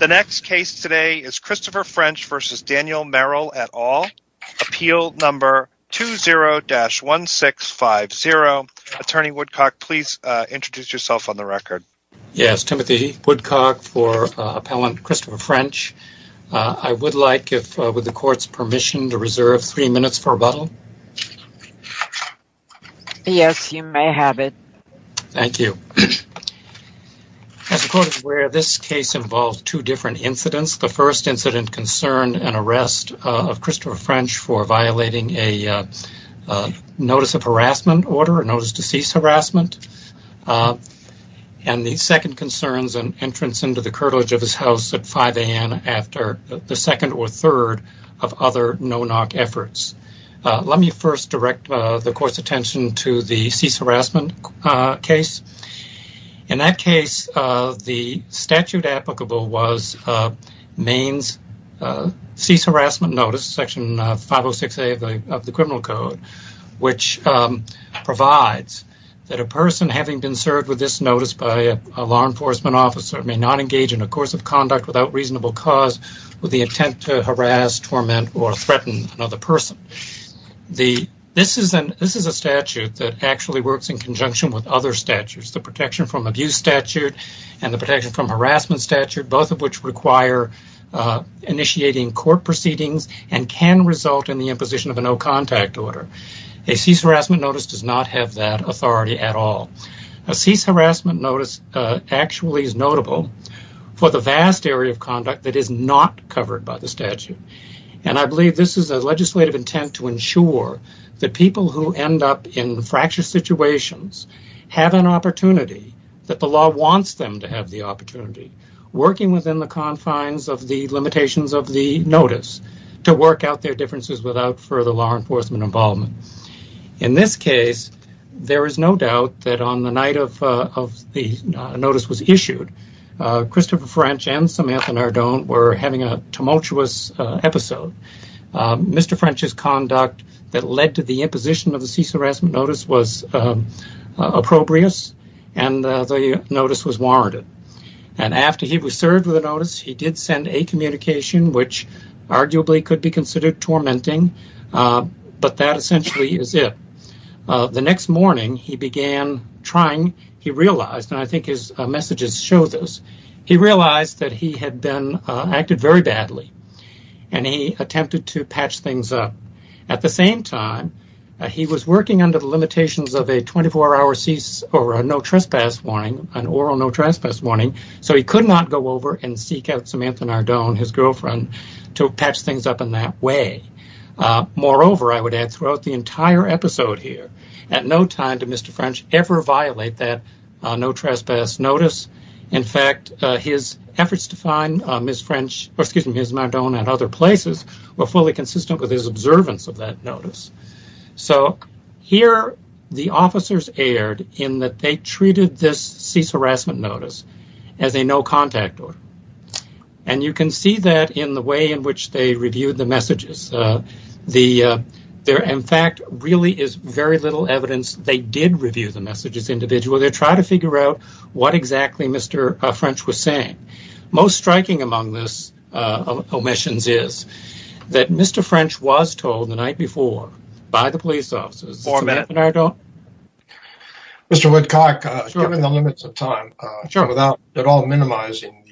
at all. Appeal number 20-1650. Attorney Woodcock, please introduce yourself on the record. Yes, Timothy Woodcock for appellant Christopher French. I would like, with the court's permission, to reserve three minutes for rebuttal. Yes, you may have it. Thank you. As the court is aware, this case involves two different incidents. The first incident concerned an arrest of Christopher French for violating a notice of harassment order, a notice to cease harassment. And the second concerns an entrance into the curtilage of his house at 5 a.m. after the second or third of other no-knock efforts. Let me first direct the court's attention to the statute applicable was Maine's cease harassment notice, section 506A of the criminal code, which provides that a person having been served with this notice by a law enforcement officer may not engage in a course of conduct without reasonable cause with the intent to harass, torment, or threaten another person. This is a statute that actually works in conjunction with other statutes, the protection from abuse statute and the protection from harassment statute, both of which require initiating court proceedings and can result in the imposition of a no-contact order. A cease harassment notice does not have that authority at all. A cease harassment notice actually is notable for the vast area of conduct that is not covered by the statute. And I believe this is a legislative intent to ensure that people who end up in fractious situations have an opportunity, that the law wants them to have the opportunity, working within the confines of the limitations of the notice to work out their differences without further law enforcement involvement. In this case, there is no doubt that on the night of the notice was issued, Christopher French and Samantha Nardone were having a tumultuous episode. Mr. French's conduct that led to the imposition of the cease harassment notice was appropriate and the notice was warranted. And after he was served with the notice, he did send a communication, which arguably could be considered tormenting, but that essentially is it. The next morning, he began trying, he realized, and I think his messages show this, he realized that he had been, acted very badly, and he attempted to patch things up. At the same time, he was working under the limitations of a 24-hour cease or a no-trespass warning, an oral no-trespass warning, so he could not go over and seek out Samantha Nardone, his girlfriend, to patch things up in that way. Moreover, I would add, throughout the entire episode here, at no time did Mr. French ever violate that no-trespass notice. In fact, his efforts to find Ms. Nardone at other places were fully consistent with his observance of that notice. So here, the officers erred in that they treated this cease harassment notice as a no-contact order. And you can see that in the way in fact, there really is very little evidence they did review the messages individually. They're trying to figure out what exactly Mr. French was saying. Most striking among this omissions is that Mr. French was told the night before by the police officers, Samantha Nardone. Mr. Woodcock, given the limits of time, without at all minimizing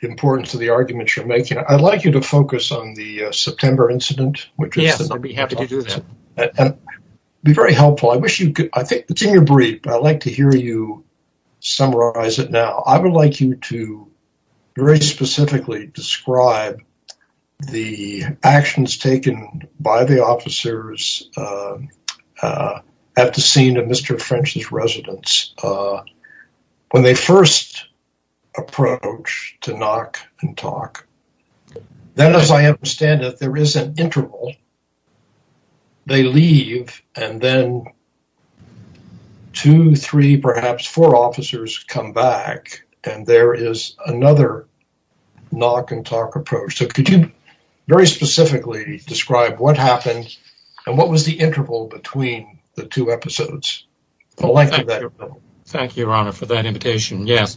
the importance of the arguments you're making, do you want to focus on the September incident? Yes, I'd be happy to do that. That would be very helpful. I think it's in your brief, but I'd like to hear you summarize it now. I would like you to very specifically describe the actions taken by the officers at the scene of Mr. French's Then as I understand it, there is an interval. They leave, and then two, three, perhaps four officers come back, and there is another knock-and-talk approach. So could you very specifically describe what happened, and what was the interval between the two episodes? Thank you, Your Honor, for that invitation. Yes.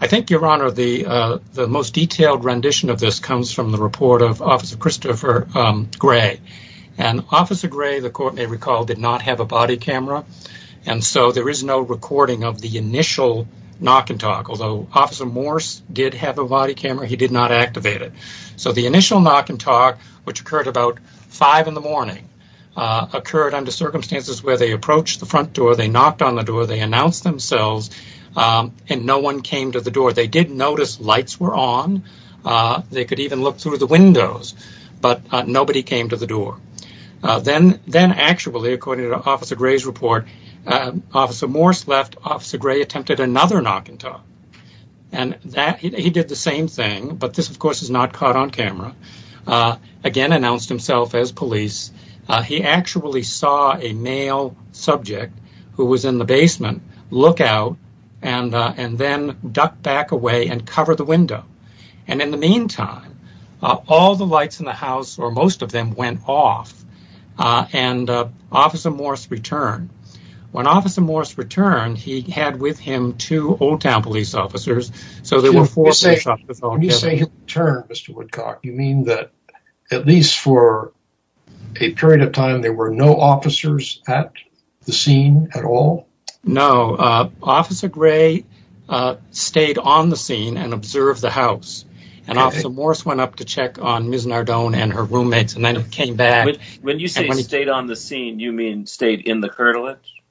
I think, Your Honor, the most detailed rendition of this comes from the report of Officer Christopher Gray. And Officer Gray, the court may recall, did not have a body camera, and so there is no recording of the initial knock-and-talk. Although Officer Morse did have a body camera, he did not activate it. So the initial knock-and-talk, which occurred about five in the door, they knocked on the door, they announced themselves, and no one came to the door. They did notice lights were on. They could even look through the windows, but nobody came to the door. Then actually, according to Officer Gray's report, Officer Morse left. Officer Gray attempted another knock-and-talk. He did the same thing, but this, of course, is not caught on camera. Again, announced himself as police. He actually saw a male subject who was in the basement look out and then duck back away and cover the window. And in the meantime, all the lights in the house, or most of them, went off, and Officer Morse returned. When Officer Morse returned, he had with him two Old Town police officers, so there were four officers at the scene at all? No. Officer Gray stayed on the scene and observed the house, and Officer Morse went up to check on Ms. Nardone and her roommates and then came back. When you say stayed on the scene, you mean stayed in the curtilage?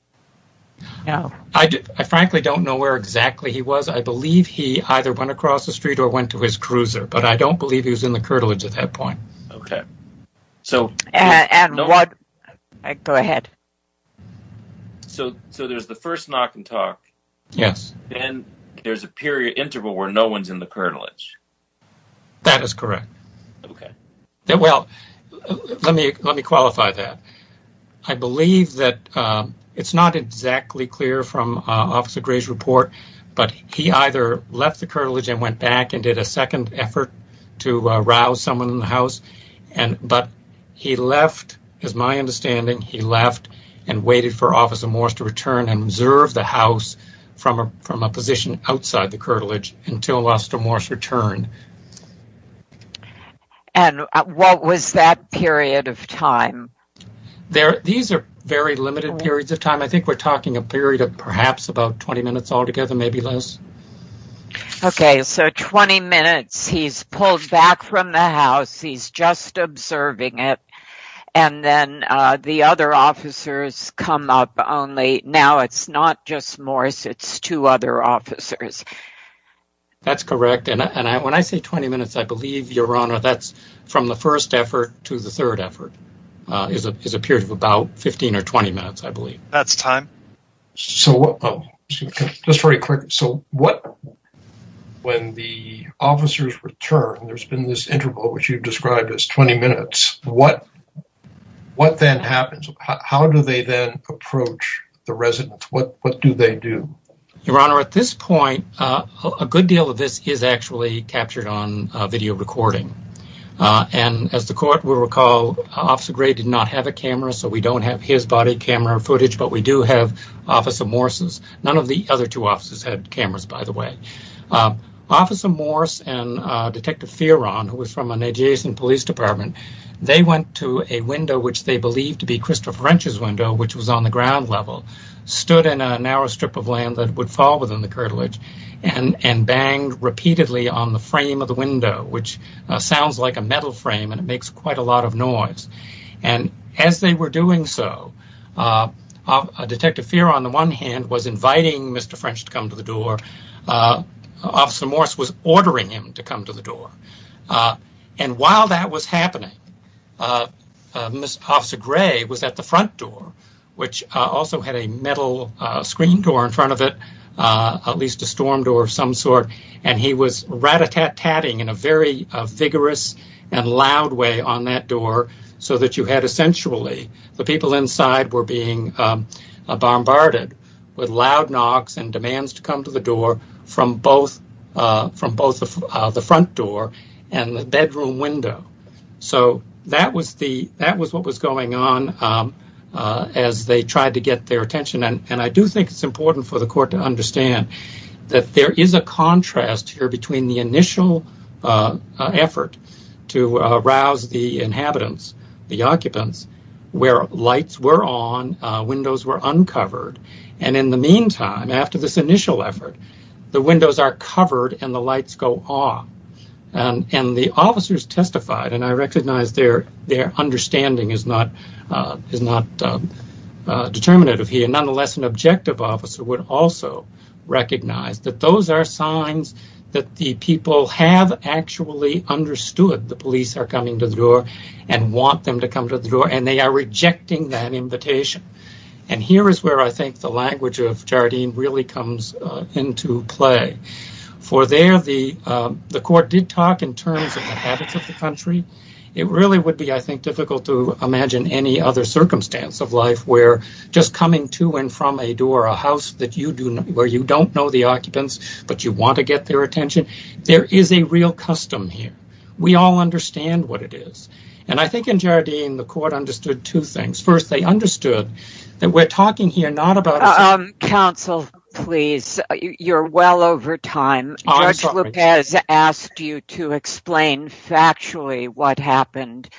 I frankly don't know where exactly he was. I believe he either went across the street or went to his cruiser, but I don't believe he was in the curtilage at that point. Okay. Go ahead. So there's the first knock-and-talk. Yes. Then there's a period interval where no one's in the curtilage. That is correct. Okay. Well, let me qualify that. I believe that it's not exactly clear from Officer Gray's report, but he either left the curtilage and went back and did a second effort to rouse someone in the house, but he left, as my understanding, he left and waited for Officer Morse to return and observe the house from a position outside the curtilage until Officer Morse returned. And what was that period of time? These are very limited periods of time. I think we're talking a period of perhaps about 20 minutes altogether, maybe less. Okay. So 20 minutes he's pulled back from the house, he's just observing it, and then the other officers come up only. Now it's not just Morse, it's two other officers. That's correct. And when I say 20 minutes, I believe, Your Honor, that's from the first effort to the third effort. It's a period of about 15 or 20 minutes, I believe. That's time. So just very quickly, so what, when the officers return, there's been this interval which you've described as 20 minutes, what then happens? How do they then approach the residents? What do they do? Your Honor, at this point, a good deal of this is actually captured on video recording. And as the court will recall, Officer Gray did not have a camera, so we don't have his body camera footage, but we do have Officer Morse's. None of the other two officers had cameras, by the way. Officer Morse and Detective Fearon, who was from a adjacent police department, they went to a window which they believed to be Christopher Wrench's window, which was on the ground level, stood in a narrow strip of land that would fall within the curtilage and banged repeatedly on the frame of the window, which sounds like a metal frame and it makes quite a lot of noise. And as they were doing so, Detective Fearon, on the one hand, was inviting Mr. Wrench to come to the door. Officer Morse was ordering him to come to the door. And while that was happening, Officer Gray was at the front door, which also had a metal screen door in front of it, at least a storm door of some sort, and he was rat-a-tat-tatting in a very vigorous and loud way on that door so that you had essentially the people inside were being bombarded with loud knocks and demands to come to the door from both the front door and the bedroom window. So that was what was going on as they tried to get their attention. And I do think it's important for the court to understand that there is a contrast here between the initial effort to rouse the inhabitants, the occupants, where lights were on, windows were uncovered. And in the meantime, after this initial effort, the windows are covered and the lights go off. And the officers testified, and I recognize their understanding is not determinative here. Nonetheless, an objective officer would also recognize that those are signs that the people have actually understood the police are coming to the door and want them to come to the door, and they are rejecting that invitation. And here is where I think the language of Jardine really comes into play. For there, the court did talk in terms of the habits of the country. It really would be, I think, difficult to imagine any other circumstance of life where just coming to and from a door, a house where you don't know the occupants but you want to get their attention. There is a real custom here. We all understand what it is. And I think in Jardine, the court understood two things. First, they understood that we're talking here not about us. Counsel, please, you're well over time. Judge Lopez asked you to explain factually what happened.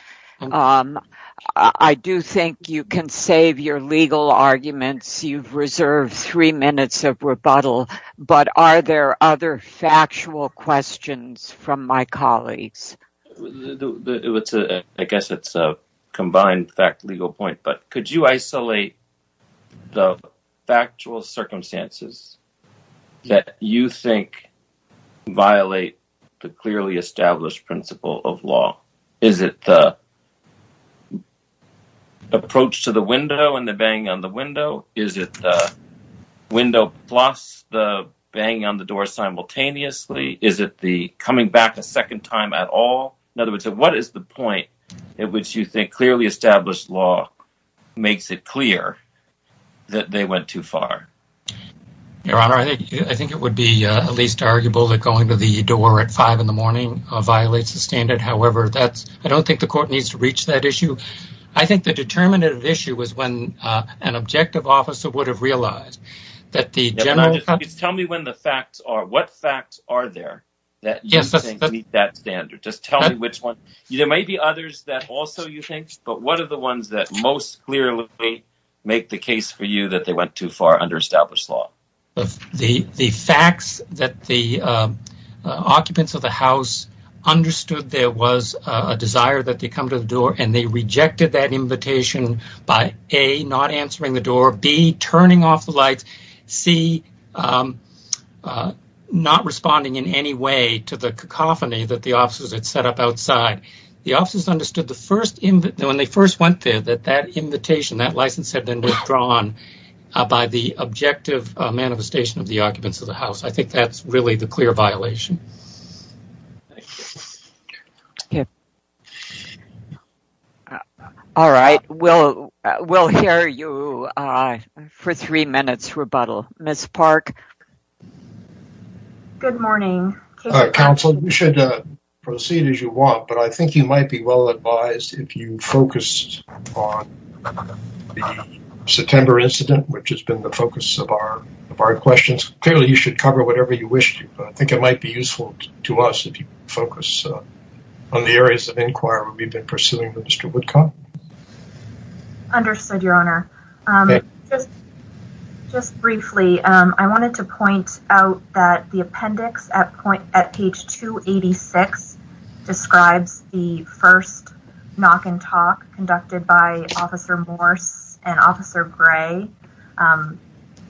I do think you can save your legal arguments. You've reserved three minutes of rebuttal. But are there other factual questions from my colleagues? I guess it's a combined legal point. But could you isolate the factual circumstances that you think violate the clearly established principle of law? Is it the approach to the window and the banging on the window? Is it the window plus the banging on the door simultaneously? Is it the coming back a second time at all? In other words, what is the point at which you think clearly established law makes it clear that they went too far? Your Honor, I think it would be at least arguable that going to the door at 5 in the morning violates the standard. However, I don't think the court needs to reach that issue. I think the determinative issue is when an objective officer would have realized that the general… Please tell me what facts are there that you think meet that standard. Just tell me which ones. There may be others that also you think, but what are the ones that most clearly make the case for you that they went too far under established law? The facts that the occupants of the house understood there was a desire that they come to the door and they rejected that invitation by, A, not answering the door, B, turning off the lights, C, not responding in any way to the cacophony that the officers had set up outside. The officers understood when they first went there that that invitation, that license had been withdrawn by the objective manifestation of the occupants of the house. I think that's really the clear violation. Thank you. All right. We'll hear you for three minutes, rebuttal. Ms. Park? Good morning. Counsel, you should proceed as you want, but I think you might be well advised if you focused on the September incident, which has been the focus of our questions. Clearly, you should cover whatever you wish to, but I think it might be useful to us if you focus on the areas of inquiry we've been pursuing with Mr. Woodcock. Understood, Your Honor. Just briefly, I wanted to point out that the appendix at page 286 describes the first knock and talk conducted by Officer Morse and Officer Gray.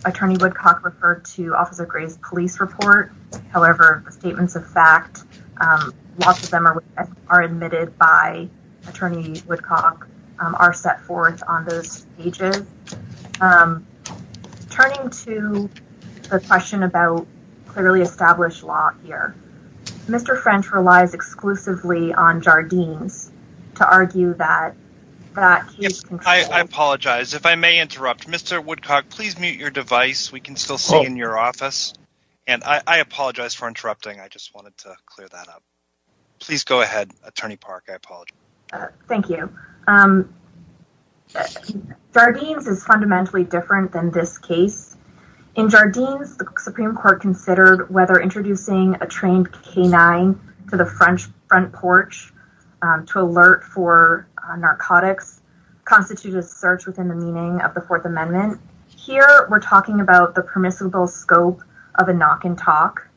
Attorney Woodcock referred to Officer Gray's police report. However, the statements of fact, lots of them are admitted by Attorney Woodcock, are set forth on those pages. Turning to the question about clearly established law here. Mr. French relies exclusively on Jardines to argue that that case. I apologize if I may interrupt. Mr. Woodcock, please mute your device. We can still see in your office. And I apologize for interrupting. I just wanted to clear that up. Please go ahead. Attorney Park, I apologize. Thank you. Jardines is fundamentally different than this case. In Jardines, the Supreme Court considered whether introducing a trained canine to the French front porch to alert for narcotics constitutes a search within the meaning of the Fourth Amendment. Here, we're talking about the permissible scope of a knock and talk.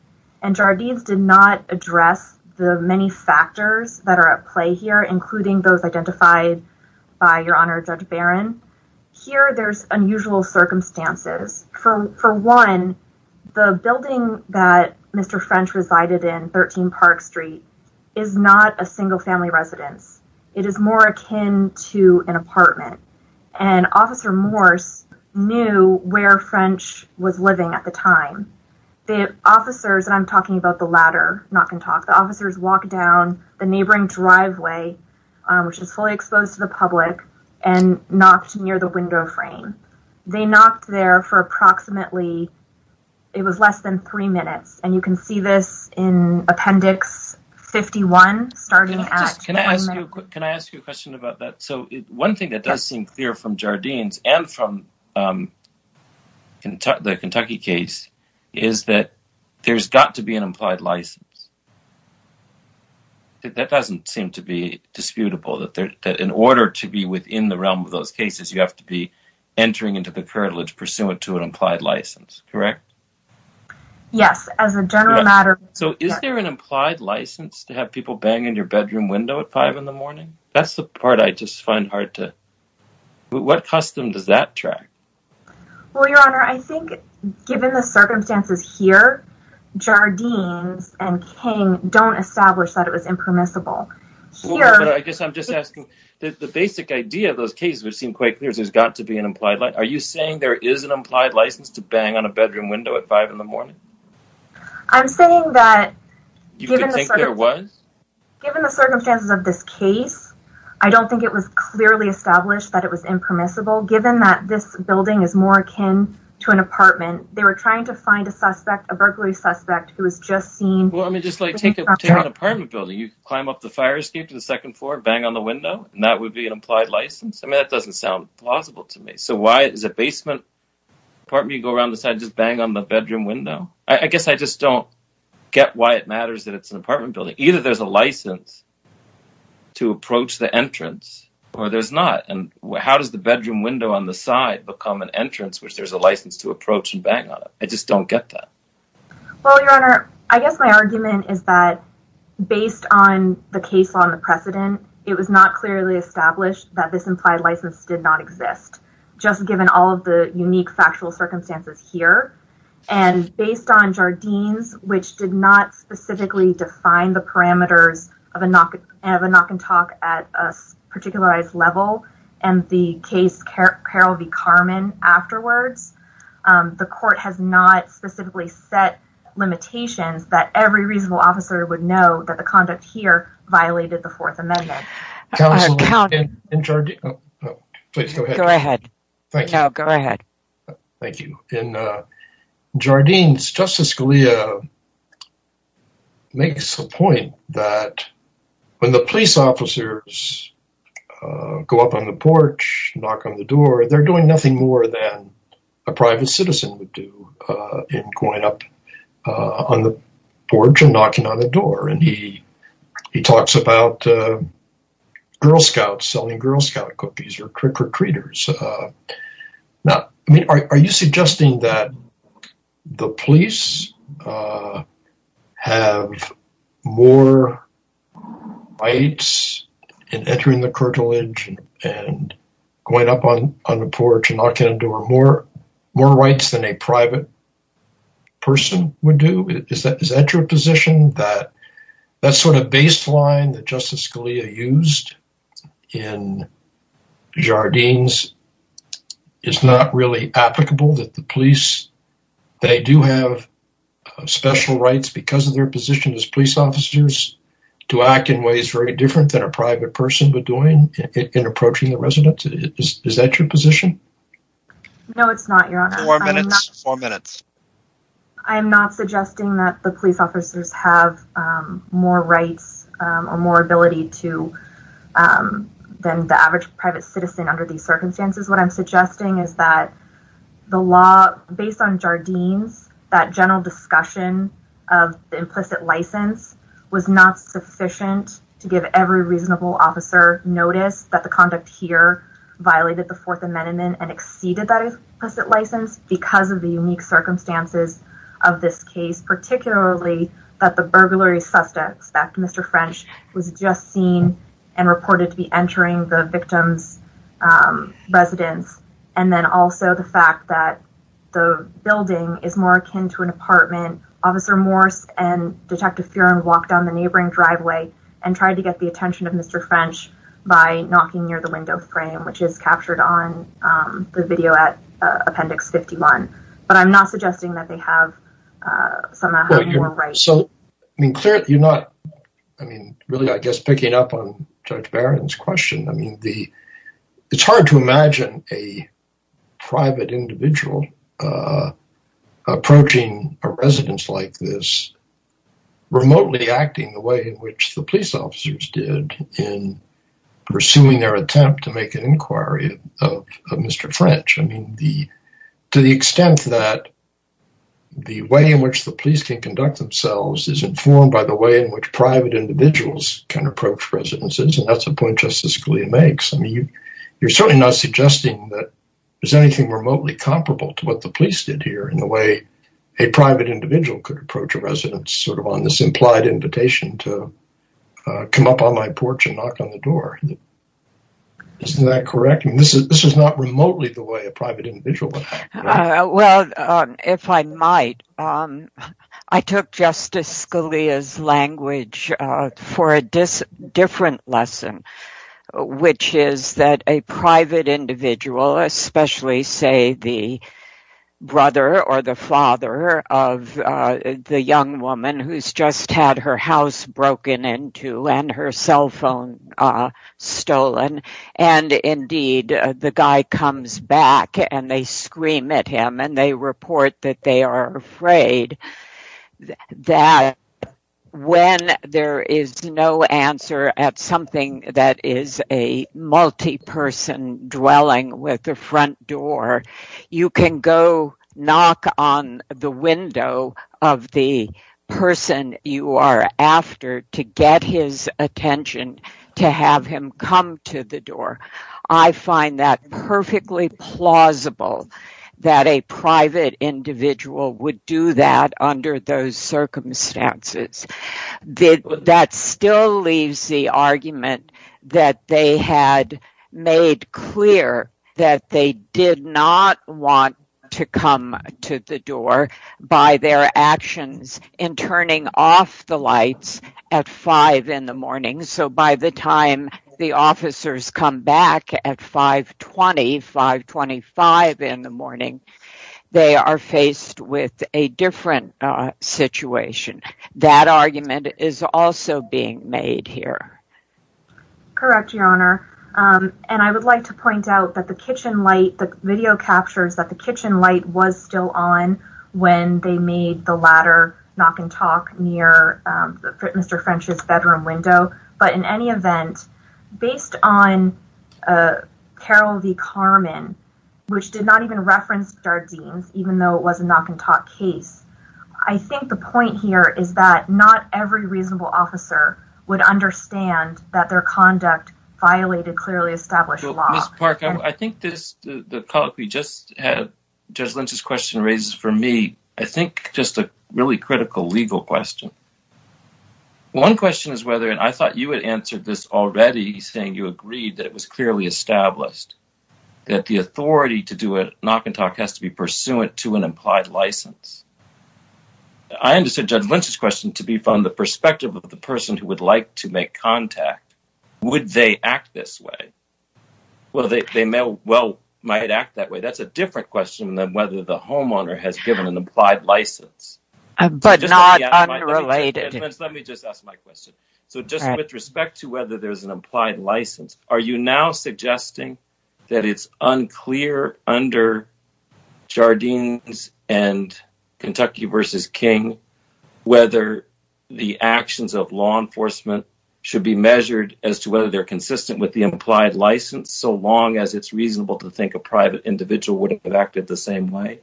And Jardines did not address the many factors that are at play here, including those identified by Your Honor Judge Barron. Here, there's unusual circumstances. For one, the building that Mr. French resided in, 13 Park Street, is not a single-family residence. It is more akin to an apartment. And Officer Morse knew where French was living at the time. The officers, and I'm talking about the ladder knock and talk, the officers walked down the neighboring driveway, which is fully exposed to the public, and knocked near the window frame. They knocked there for approximately, it was less than three minutes. And you can see this in Appendix 51, starting at… Can I ask you a question about that? So, one thing that does seem clear from Jardines, and from the Kentucky case, is that there's got to be an implied license. That doesn't seem to be disputable, that in order to be within the realm of those cases, you have to be entering into the curtilage pursuant to an implied license, correct? Yes, as a general matter… So, is there an implied license to have people bang in your bedroom window at five in the morning? That's the part I just find hard to… What custom does that track? Well, Your Honor, I think, given the circumstances here, Jardines and King don't establish that it was impermissible. I guess I'm just asking, the basic idea of those cases, which seem quite clear, is there's got to be an implied license. Are you saying there is an implied license to bang on a bedroom window at five in the morning? I'm saying that… You think there was? Given the circumstances of this case, I don't think it was clearly established that it was impermissible. Given that this building is more akin to an apartment, they were trying to find a suspect, a burglary suspect, who was just seen… Well, I mean, just like take an apartment building, you climb up the fire escape to the second floor, bang on the window, and that would be an implied license? I mean, that doesn't sound plausible to me. So, why is a basement apartment, you go around the side, just bang on the bedroom window? I guess I just don't get why it matters that it's an apartment building. Either there's a license to approach the entrance, or there's not. And how does the bedroom window on the side become an entrance, which there's a license to approach and bang on it? I just don't get that. Well, Your Honor, I guess my argument is that, based on the case law and the precedent, it was not clearly established that this implied license did not exist. Just given all of the unique factual circumstances here. And based on Jardine's, which did not specifically define the parameters of a knock-and-talk at a particularized level, and the case Carroll v. Carman afterwards, the court has not specifically set limitations that every reasonable officer would know that the conduct here violated the Fourth Amendment. Counsel, in Jardine's... Please go ahead. Go ahead. Thank you. No, go ahead. Thank you. In Jardine's, Justice Scalia makes a point that when the police officers go up on the porch, knock on the door, they're doing nothing more than a private citizen would do in going up on the porch and knocking on the door. And he talks about Girl Scouts selling Girl Scout cookies or trick-or-treaters. Now, are you suggesting that the police have more rights in entering the cartilage and going up on the porch and knocking on the door, more rights than a private person would do? Is that your position, that that sort of baseline that Justice Scalia used in Jardine's is not really applicable, that the police, they do have special rights because of their position as police officers to act in ways very different than a private person would do in approaching a resident? Is that your position? No, it's not, Your Honor. Four minutes. Four minutes. I'm not suggesting that the police officers have more rights or more ability to, than the average private citizen under these circumstances. What I'm suggesting is that the law, based on Jardine's, that general discussion of the implicit license was not sufficient to give every reasonable officer notice that the conduct here violated the Fourth Amendment and exceeded that implicit license because of the unique circumstances of this case, particularly that the burglary suspect, Mr. French, was just seen and reported to be entering the victim's residence. And then also the fact that the building is more akin to an apartment. Officer Morse and Detective Fearon walked down the neighboring driveway and tried to get the attention of Mr. French by knocking near the window frame, which is captured on the video at Appendix 51. But I'm not suggesting that they have some more rights. So, I mean, clearly you're not, I mean, really, I guess, picking up on Judge Barron's question. I mean, it's hard to imagine a private individual approaching a residence like this, remotely acting the way in which the police officers did in pursuing their attempt to make an inquiry of Mr. French. I mean, to the extent that the way in which the police can conduct themselves is informed by the way in which private individuals can approach residences. And that's a point Justice Scalia makes. I mean, you're certainly not suggesting that there's anything remotely comparable to what the police did here in the way a private individual could approach a residence, sort of on this implied invitation to come up on my porch and knock on the door. Isn't that correct? This is not remotely the way a private individual would act. Well, if I might, I took Justice Scalia's language for a different lesson, which is that a private individual, especially, say, the brother or the father of the young woman who's just had her house broken into and her cell phone stolen, and indeed the guy comes back and they scream at him and they report that they are afraid, that when there is no answer at something that is a multi-person dwelling with the front door, you can go knock on the window of the person you are after to get his attention, to have him come to the door. I find that perfectly plausible that a private individual would do that under those circumstances. That still leaves the argument that they had made clear that they did not want to come to the door by their actions in turning off the lights at 5 in the morning, so by the time the officers come back at 5.20, 5.25 in the morning, they are faced with a different situation. That argument is also being made here. Correct, Your Honor, and I would like to point out that the kitchen light, the video captures that the kitchen light was still on when they made the latter knock and talk near Mr. French's bedroom window, but in any event, based on Carroll v. Carman, which did not even reference Jardine's, even though it was a knock and talk case, I think the point here is that not every reasonable officer would understand that their conduct violated clearly established law. Ms. Park, I think this, the thought we just had, Judge Lynch's question raises for me, I think just a really critical legal question. One question is whether, and I thought you had answered this already, saying you agreed that it was clearly established that the authority to do a knock and talk has to be pursuant to an implied license. I understood Judge Lynch's question to be from the perspective of the person who would like to make contact. Would they act this way? Well, they may well, might act that way. That's a different question than whether the homeowner has given an implied license. But not unrelated. Let me just ask my question. So just with respect to whether there's an implied license, are you now suggesting that it's unclear under Jardine's and Kentucky v. King whether the actions of law enforcement should be measured as to whether they're consistent with the implied license so long as it's reasonable to think a private individual wouldn't have acted the same way?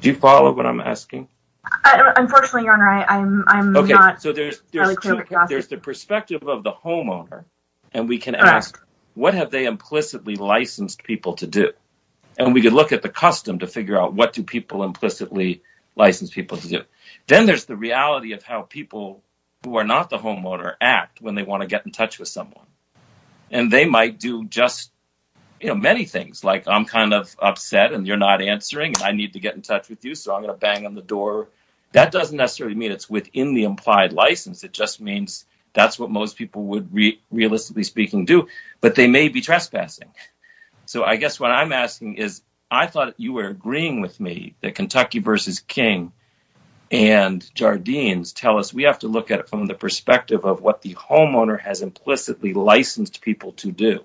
Do you follow what I'm asking? Unfortunately, Your Honor, I'm not… Okay, so there's the perspective of the homeowner, and we can ask, what have they implicitly licensed people to do? And we can look at the custom to figure out what do people implicitly license people to do. Then there's the reality of how people who are not the homeowner act when they want to get in touch with someone. And they might do just, you know, many things. Like, I'm kind of upset and you're not answering, and I need to get in touch with you, so I'm going to bang on the door. That doesn't necessarily mean it's within the implied license. It just means that's what most people would realistically speaking do. But they may be trespassing. So I guess what I'm asking is, I thought you were agreeing with me that Kentucky v. King and Jardine's tell us we have to look at it from the perspective of what the homeowner has implicitly licensed people to do.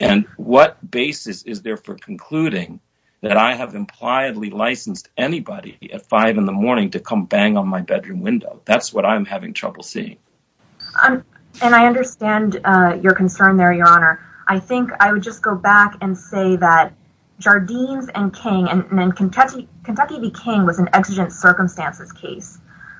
And what basis is there for concluding that I have impliedly licensed anybody at 5 in the morning to come bang on my bedroom window? That's what I'm having trouble seeing. And I understand your concern there, Your Honor. I think I would just go back and say that Jardine's and King, and then Kentucky v. King was an exigent circumstances case.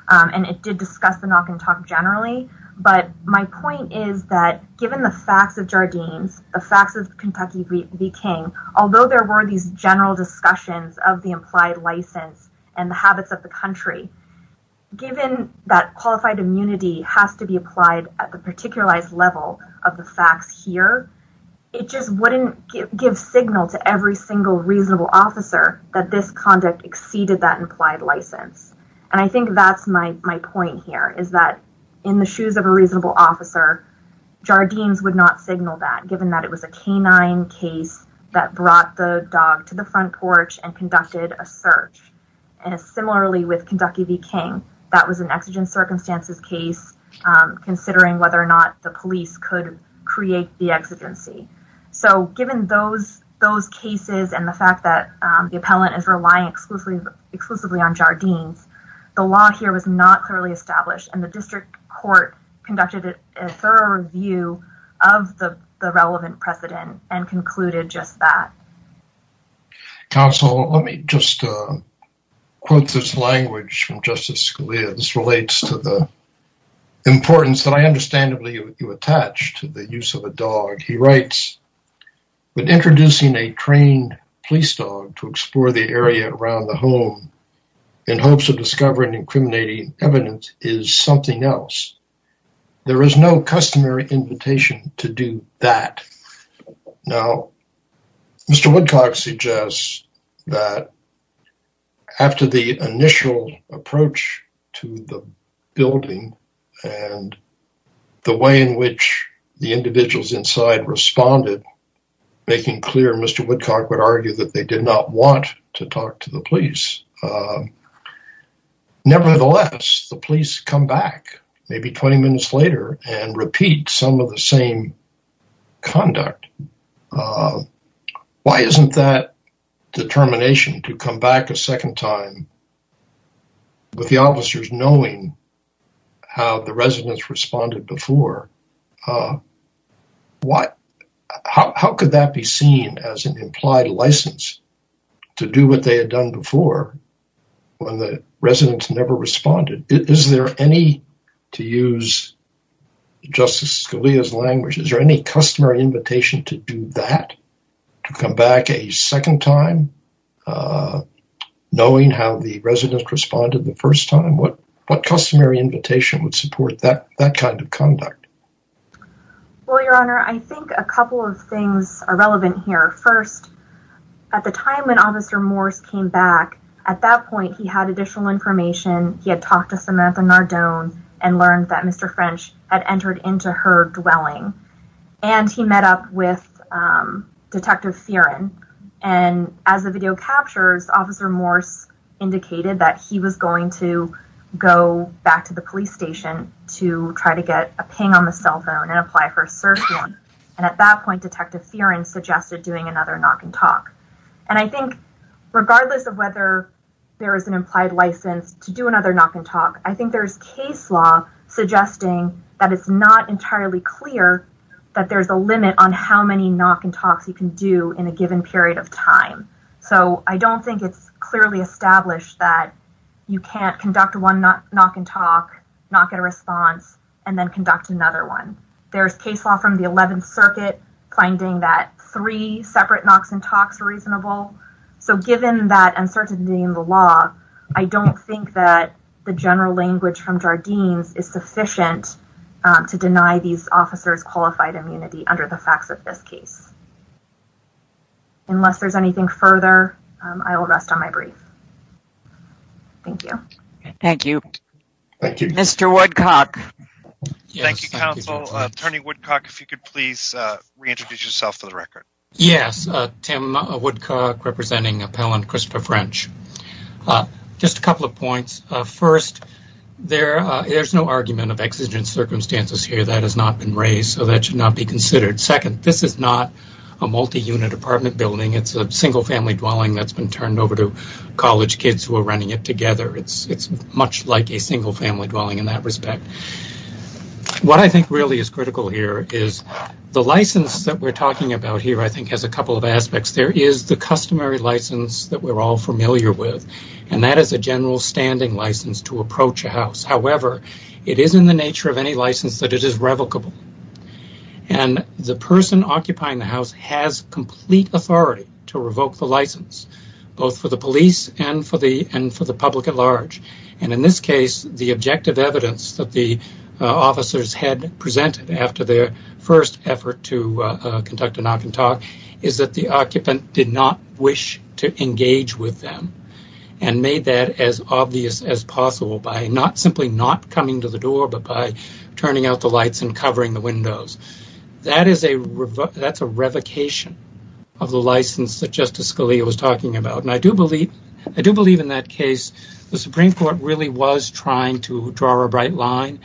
And it did discuss the knock and talk generally. But my point is that given the facts of Jardine's, the facts of Kentucky v. King, although there were these general discussions of the implied license and the habits of the country, given that qualified immunity has to be applied at the particularized level of the facts here, it just wouldn't give signal to every single reasonable officer that this conduct exceeded that implied license. And I think that's my point here, is that in the shoes of a reasonable officer, Jardine's would not signal that, given that it was a canine case that brought the dog to the front porch and conducted a search. And similarly with Kentucky v. King, that was an exigent circumstances case, considering whether or not the police could create the exigency. So given those cases and the fact that the appellant is relying exclusively on Jardine's, the law here was not clearly established, and the district court conducted a thorough review of the relevant precedent and concluded just that. Counsel, let me just quote this language from Justice Scalia. This relates to the importance that I understandably attach to the use of a dog. He writes, but introducing a trained police dog to explore the area around the home in hopes of discovering incriminating evidence is something else. There is no customary invitation to do that. Now, Mr. Woodcock suggests that after the initial approach to the building and the way in which the individuals inside responded, making clear Mr. Woodcock would argue that they did not want to talk to the police. Nevertheless, the police come back maybe 20 minutes later and repeat some of the same conduct. Why isn't that determination to come back a second time with the officers knowing how the residents responded before? How could that be seen as an implied license to do what they had done before when the residents never responded? Is there any, to use Justice Scalia's language, is there any customary invitation to do that? To come back a second time knowing how the residents responded the first time? What customary invitation would support that kind of conduct? Well, Your Honor, I think a couple of things are relevant here. First, at the time when Officer Morse came back, at that point he had additional information. He had talked to Samantha Nardone and learned that Mr. French had entered into her dwelling. And he met up with Detective Fearon. And as the video captures, Officer Morse indicated that he was going to go back to the police station to try to get a ping on the cell phone and apply for a search warrant. And at that point, Detective Fearon suggested doing another knock and talk. And I think regardless of whether there is an implied license to do another knock and talk, I think there's case law suggesting that it's not entirely clear that there's a limit on how many knock and talks you can do in a given period of time. So I don't think it's clearly established that you can't conduct one knock and talk, not get a response, and then conduct another one. There's case law from the 11th Circuit finding that three separate knocks and talks are reasonable. So given that uncertainty in the law, I don't think that the general language from Jardines is sufficient to deny these officers qualified immunity under the facts of this case. Unless there's anything further, I will rest on my brief. Thank you. Thank you. Mr. Woodcock. Thank you, Counsel. Attorney Woodcock, if you could please reintroduce yourself for the record. Yes, Tim Woodcock, representing Appellant Christopher French. Just a couple of points. First, there's no argument of exigent circumstances here. That has not been raised, so that should not be considered. Second, this is not a multi-unit apartment building. It's a single-family dwelling that's been turned over to college kids who are running it together. It's much like a single-family dwelling in that respect. What I think really is critical here is the license that we're talking about here, I think, has a couple of aspects. There is the customary license that we're all familiar with, and that is a general standing license to approach a house. However, it is in the nature of any license that it is revocable. And the person occupying the house has complete authority to revoke the license, both for the police and for the public at large. And in this case, the objective evidence that the officers had presented after their first effort to conduct a knock-and-talk is that the occupant did not wish to engage with them and made that as obvious as possible by not simply not coming to the door but by turning out the lights and covering the windows. That's a revocation of the license that Justice Scalia was talking about. And I do believe in that case the Supreme Court really was trying to draw a bright line.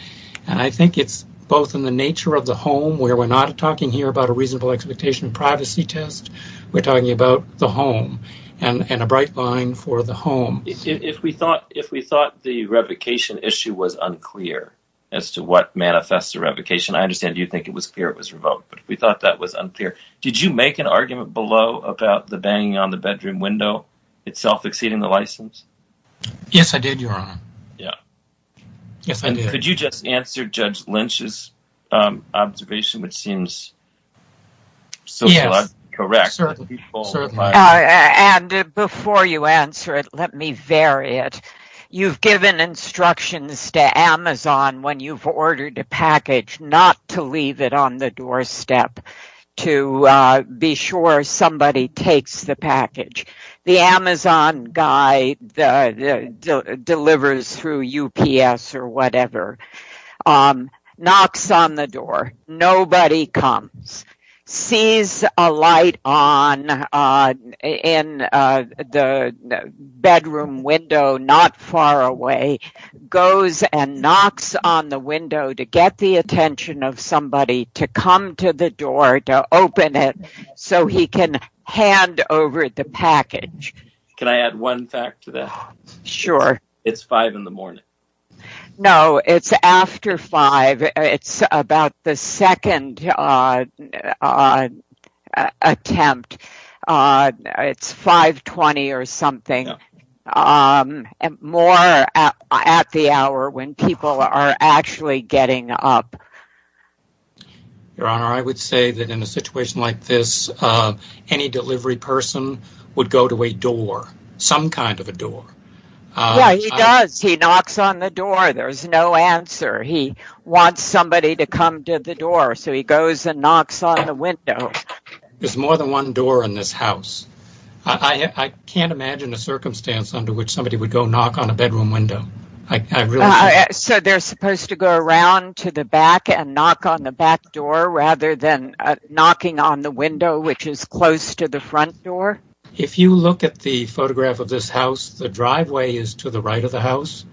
And I think it's both in the nature of the home, where we're not talking here about a reasonable expectation of privacy test. We're talking about the home and a bright line for the home. If we thought the revocation issue was unclear as to what manifests a revocation, I understand you think it was clear it was revoked. But if we thought that was unclear, did you make an argument below about the banging on the bedroom window itself exceeding the license? Yes, I did, Your Honor. Yeah. Yes, I did. Could you just answer Judge Lynch's observation, which seems sociologically correct? Yes, certainly. And before you answer it, let me vary it. You've given instructions to Amazon when you've ordered a package not to leave it on the doorstep to be sure somebody takes the package. The Amazon guy delivers through UPS or whatever, knocks on the door. Nobody comes. Sees a light on in the bedroom window not far away, goes and knocks on the window to get the attention of somebody to come to the door to open it so he can hand over the package. Can I add one fact to that? Sure. It's 5 in the morning. No, it's after 5. It's about the second attempt. It's 5.20 or something. More at the hour when people are actually getting up. Your Honor, I would say that in a situation like this, any delivery person would go to a door, some kind of a door. Yeah, he does. He knocks on the door. There's no answer. He wants somebody to come to the door so he goes and knocks on the window. There's more than one door in this house. I can't imagine a circumstance under which somebody would go knock on a bedroom window. So they're supposed to go around to the back and knock on the back door rather than knocking on the window which is close to the front door? If you look at the photograph of this house, the driveway is to the right of the house.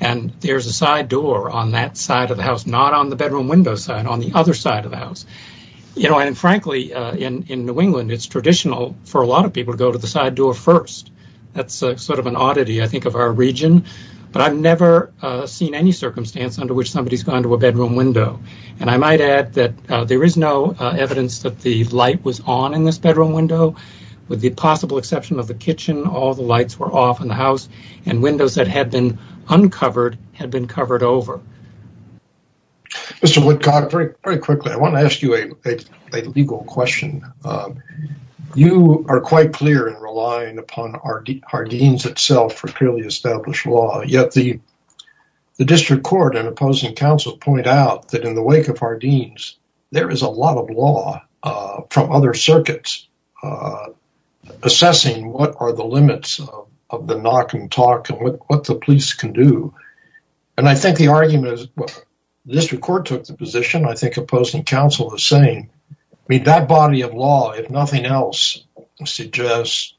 And there's a side door on that side of the house, not on the bedroom window side, on the other side of the house. You know, and frankly, in New England, it's traditional for a lot of people to go to the side door first. That's sort of an oddity, I think, of our region. But I've never seen any circumstance under which somebody's gone to a bedroom window. And I might add that there is no evidence that the light was on in this bedroom window. With the possible exception of the kitchen, all the lights were off in the house. And windows that had been uncovered had been covered over. Mr. Woodcock, very quickly, I want to ask you a legal question. You are quite clear in relying upon our deans itself for clearly established law. Yet the district court and opposing counsel point out that in the wake of our deans, there is a lot of law from other circuits assessing what are the limits of the knock and talk and what the police can do. And I think the argument is the district court took the position. I think opposing counsel is saying that body of law, if nothing else, suggests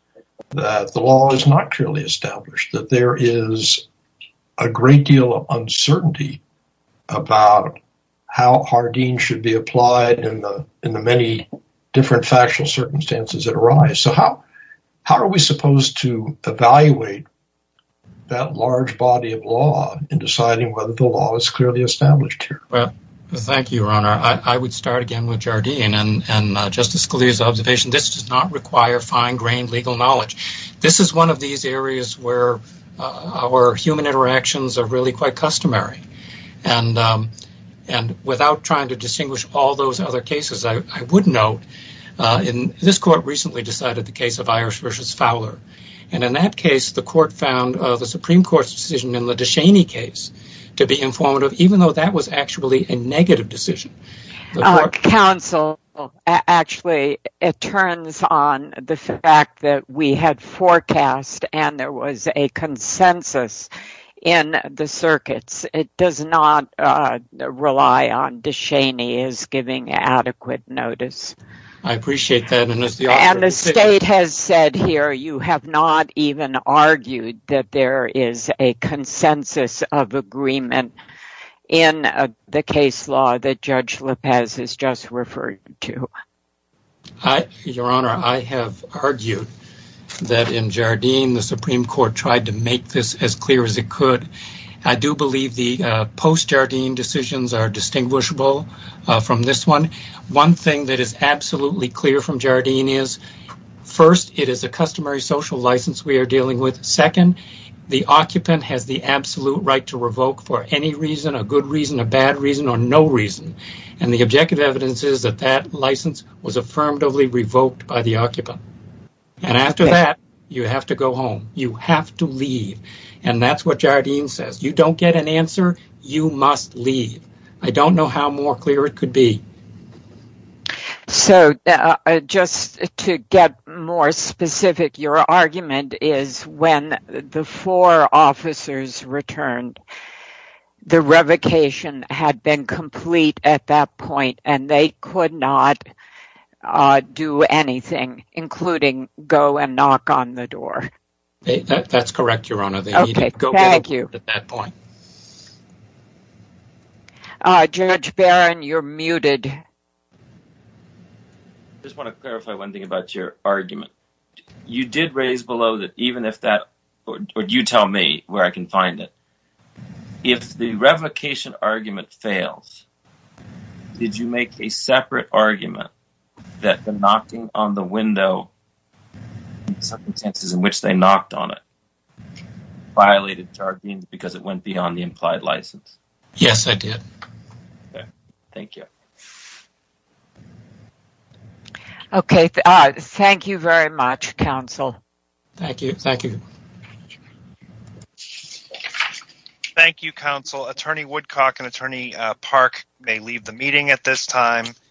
that the law is not clearly established. That there is a great deal of uncertainty about how our deans should be applied in the many different factual circumstances that arise. So how are we supposed to evaluate that large body of law in deciding whether the law is clearly established here? Well, thank you, Your Honor. I would start again with Jardine. And Justice Scalia's observation, this does not require fine-grained legal knowledge. This is one of these areas where our human interactions are really quite customary. And without trying to distinguish all those other cases, I would note this court recently decided the case of Irish v. Fowler. And in that case, the Supreme Court's decision in the De Cheney case to be informative, even though that was actually a negative decision. Counsel, actually, it turns on the fact that we had forecast and there was a consensus in the circuits. It does not rely on De Cheney as giving adequate notice. I appreciate that. And the state has said here, you have not even argued that there is a consensus of agreement in the case law that Judge Lopez has just referred to. Your Honor, I have argued that in Jardine, the Supreme Court tried to make this as clear as it could. I do believe the post-Jardine decisions are distinguishable from this one. One thing that is absolutely clear from Jardine is, first, it is a customary social license we are dealing with. Second, the occupant has the absolute right to revoke for any reason, a good reason, a bad reason, or no reason. And the objective evidence is that that license was affirmatively revoked by the occupant. And after that, you have to go home. You have to leave. And that's what Jardine says. You don't get an answer. You must leave. I don't know how more clear it could be. So, just to get more specific, your argument is when the four officers returned, the revocation had been complete at that point, and they could not do anything, including go and knock on the door. That's correct, Your Honor. Judge Barron, you're muted. I just want to clarify one thing about your argument. You did raise below that even if that, or you tell me where I can find it. If the revocation argument fails, did you make a separate argument that the knocking on the window, the circumstances in which they knocked on it, violated Jardine because it went beyond the implied license? Yes, I did. Thank you. Okay. Thank you very much, counsel. Thank you. Thank you. Thank you, counsel. Attorney Woodcock and Attorney Park may leave the meeting at this time.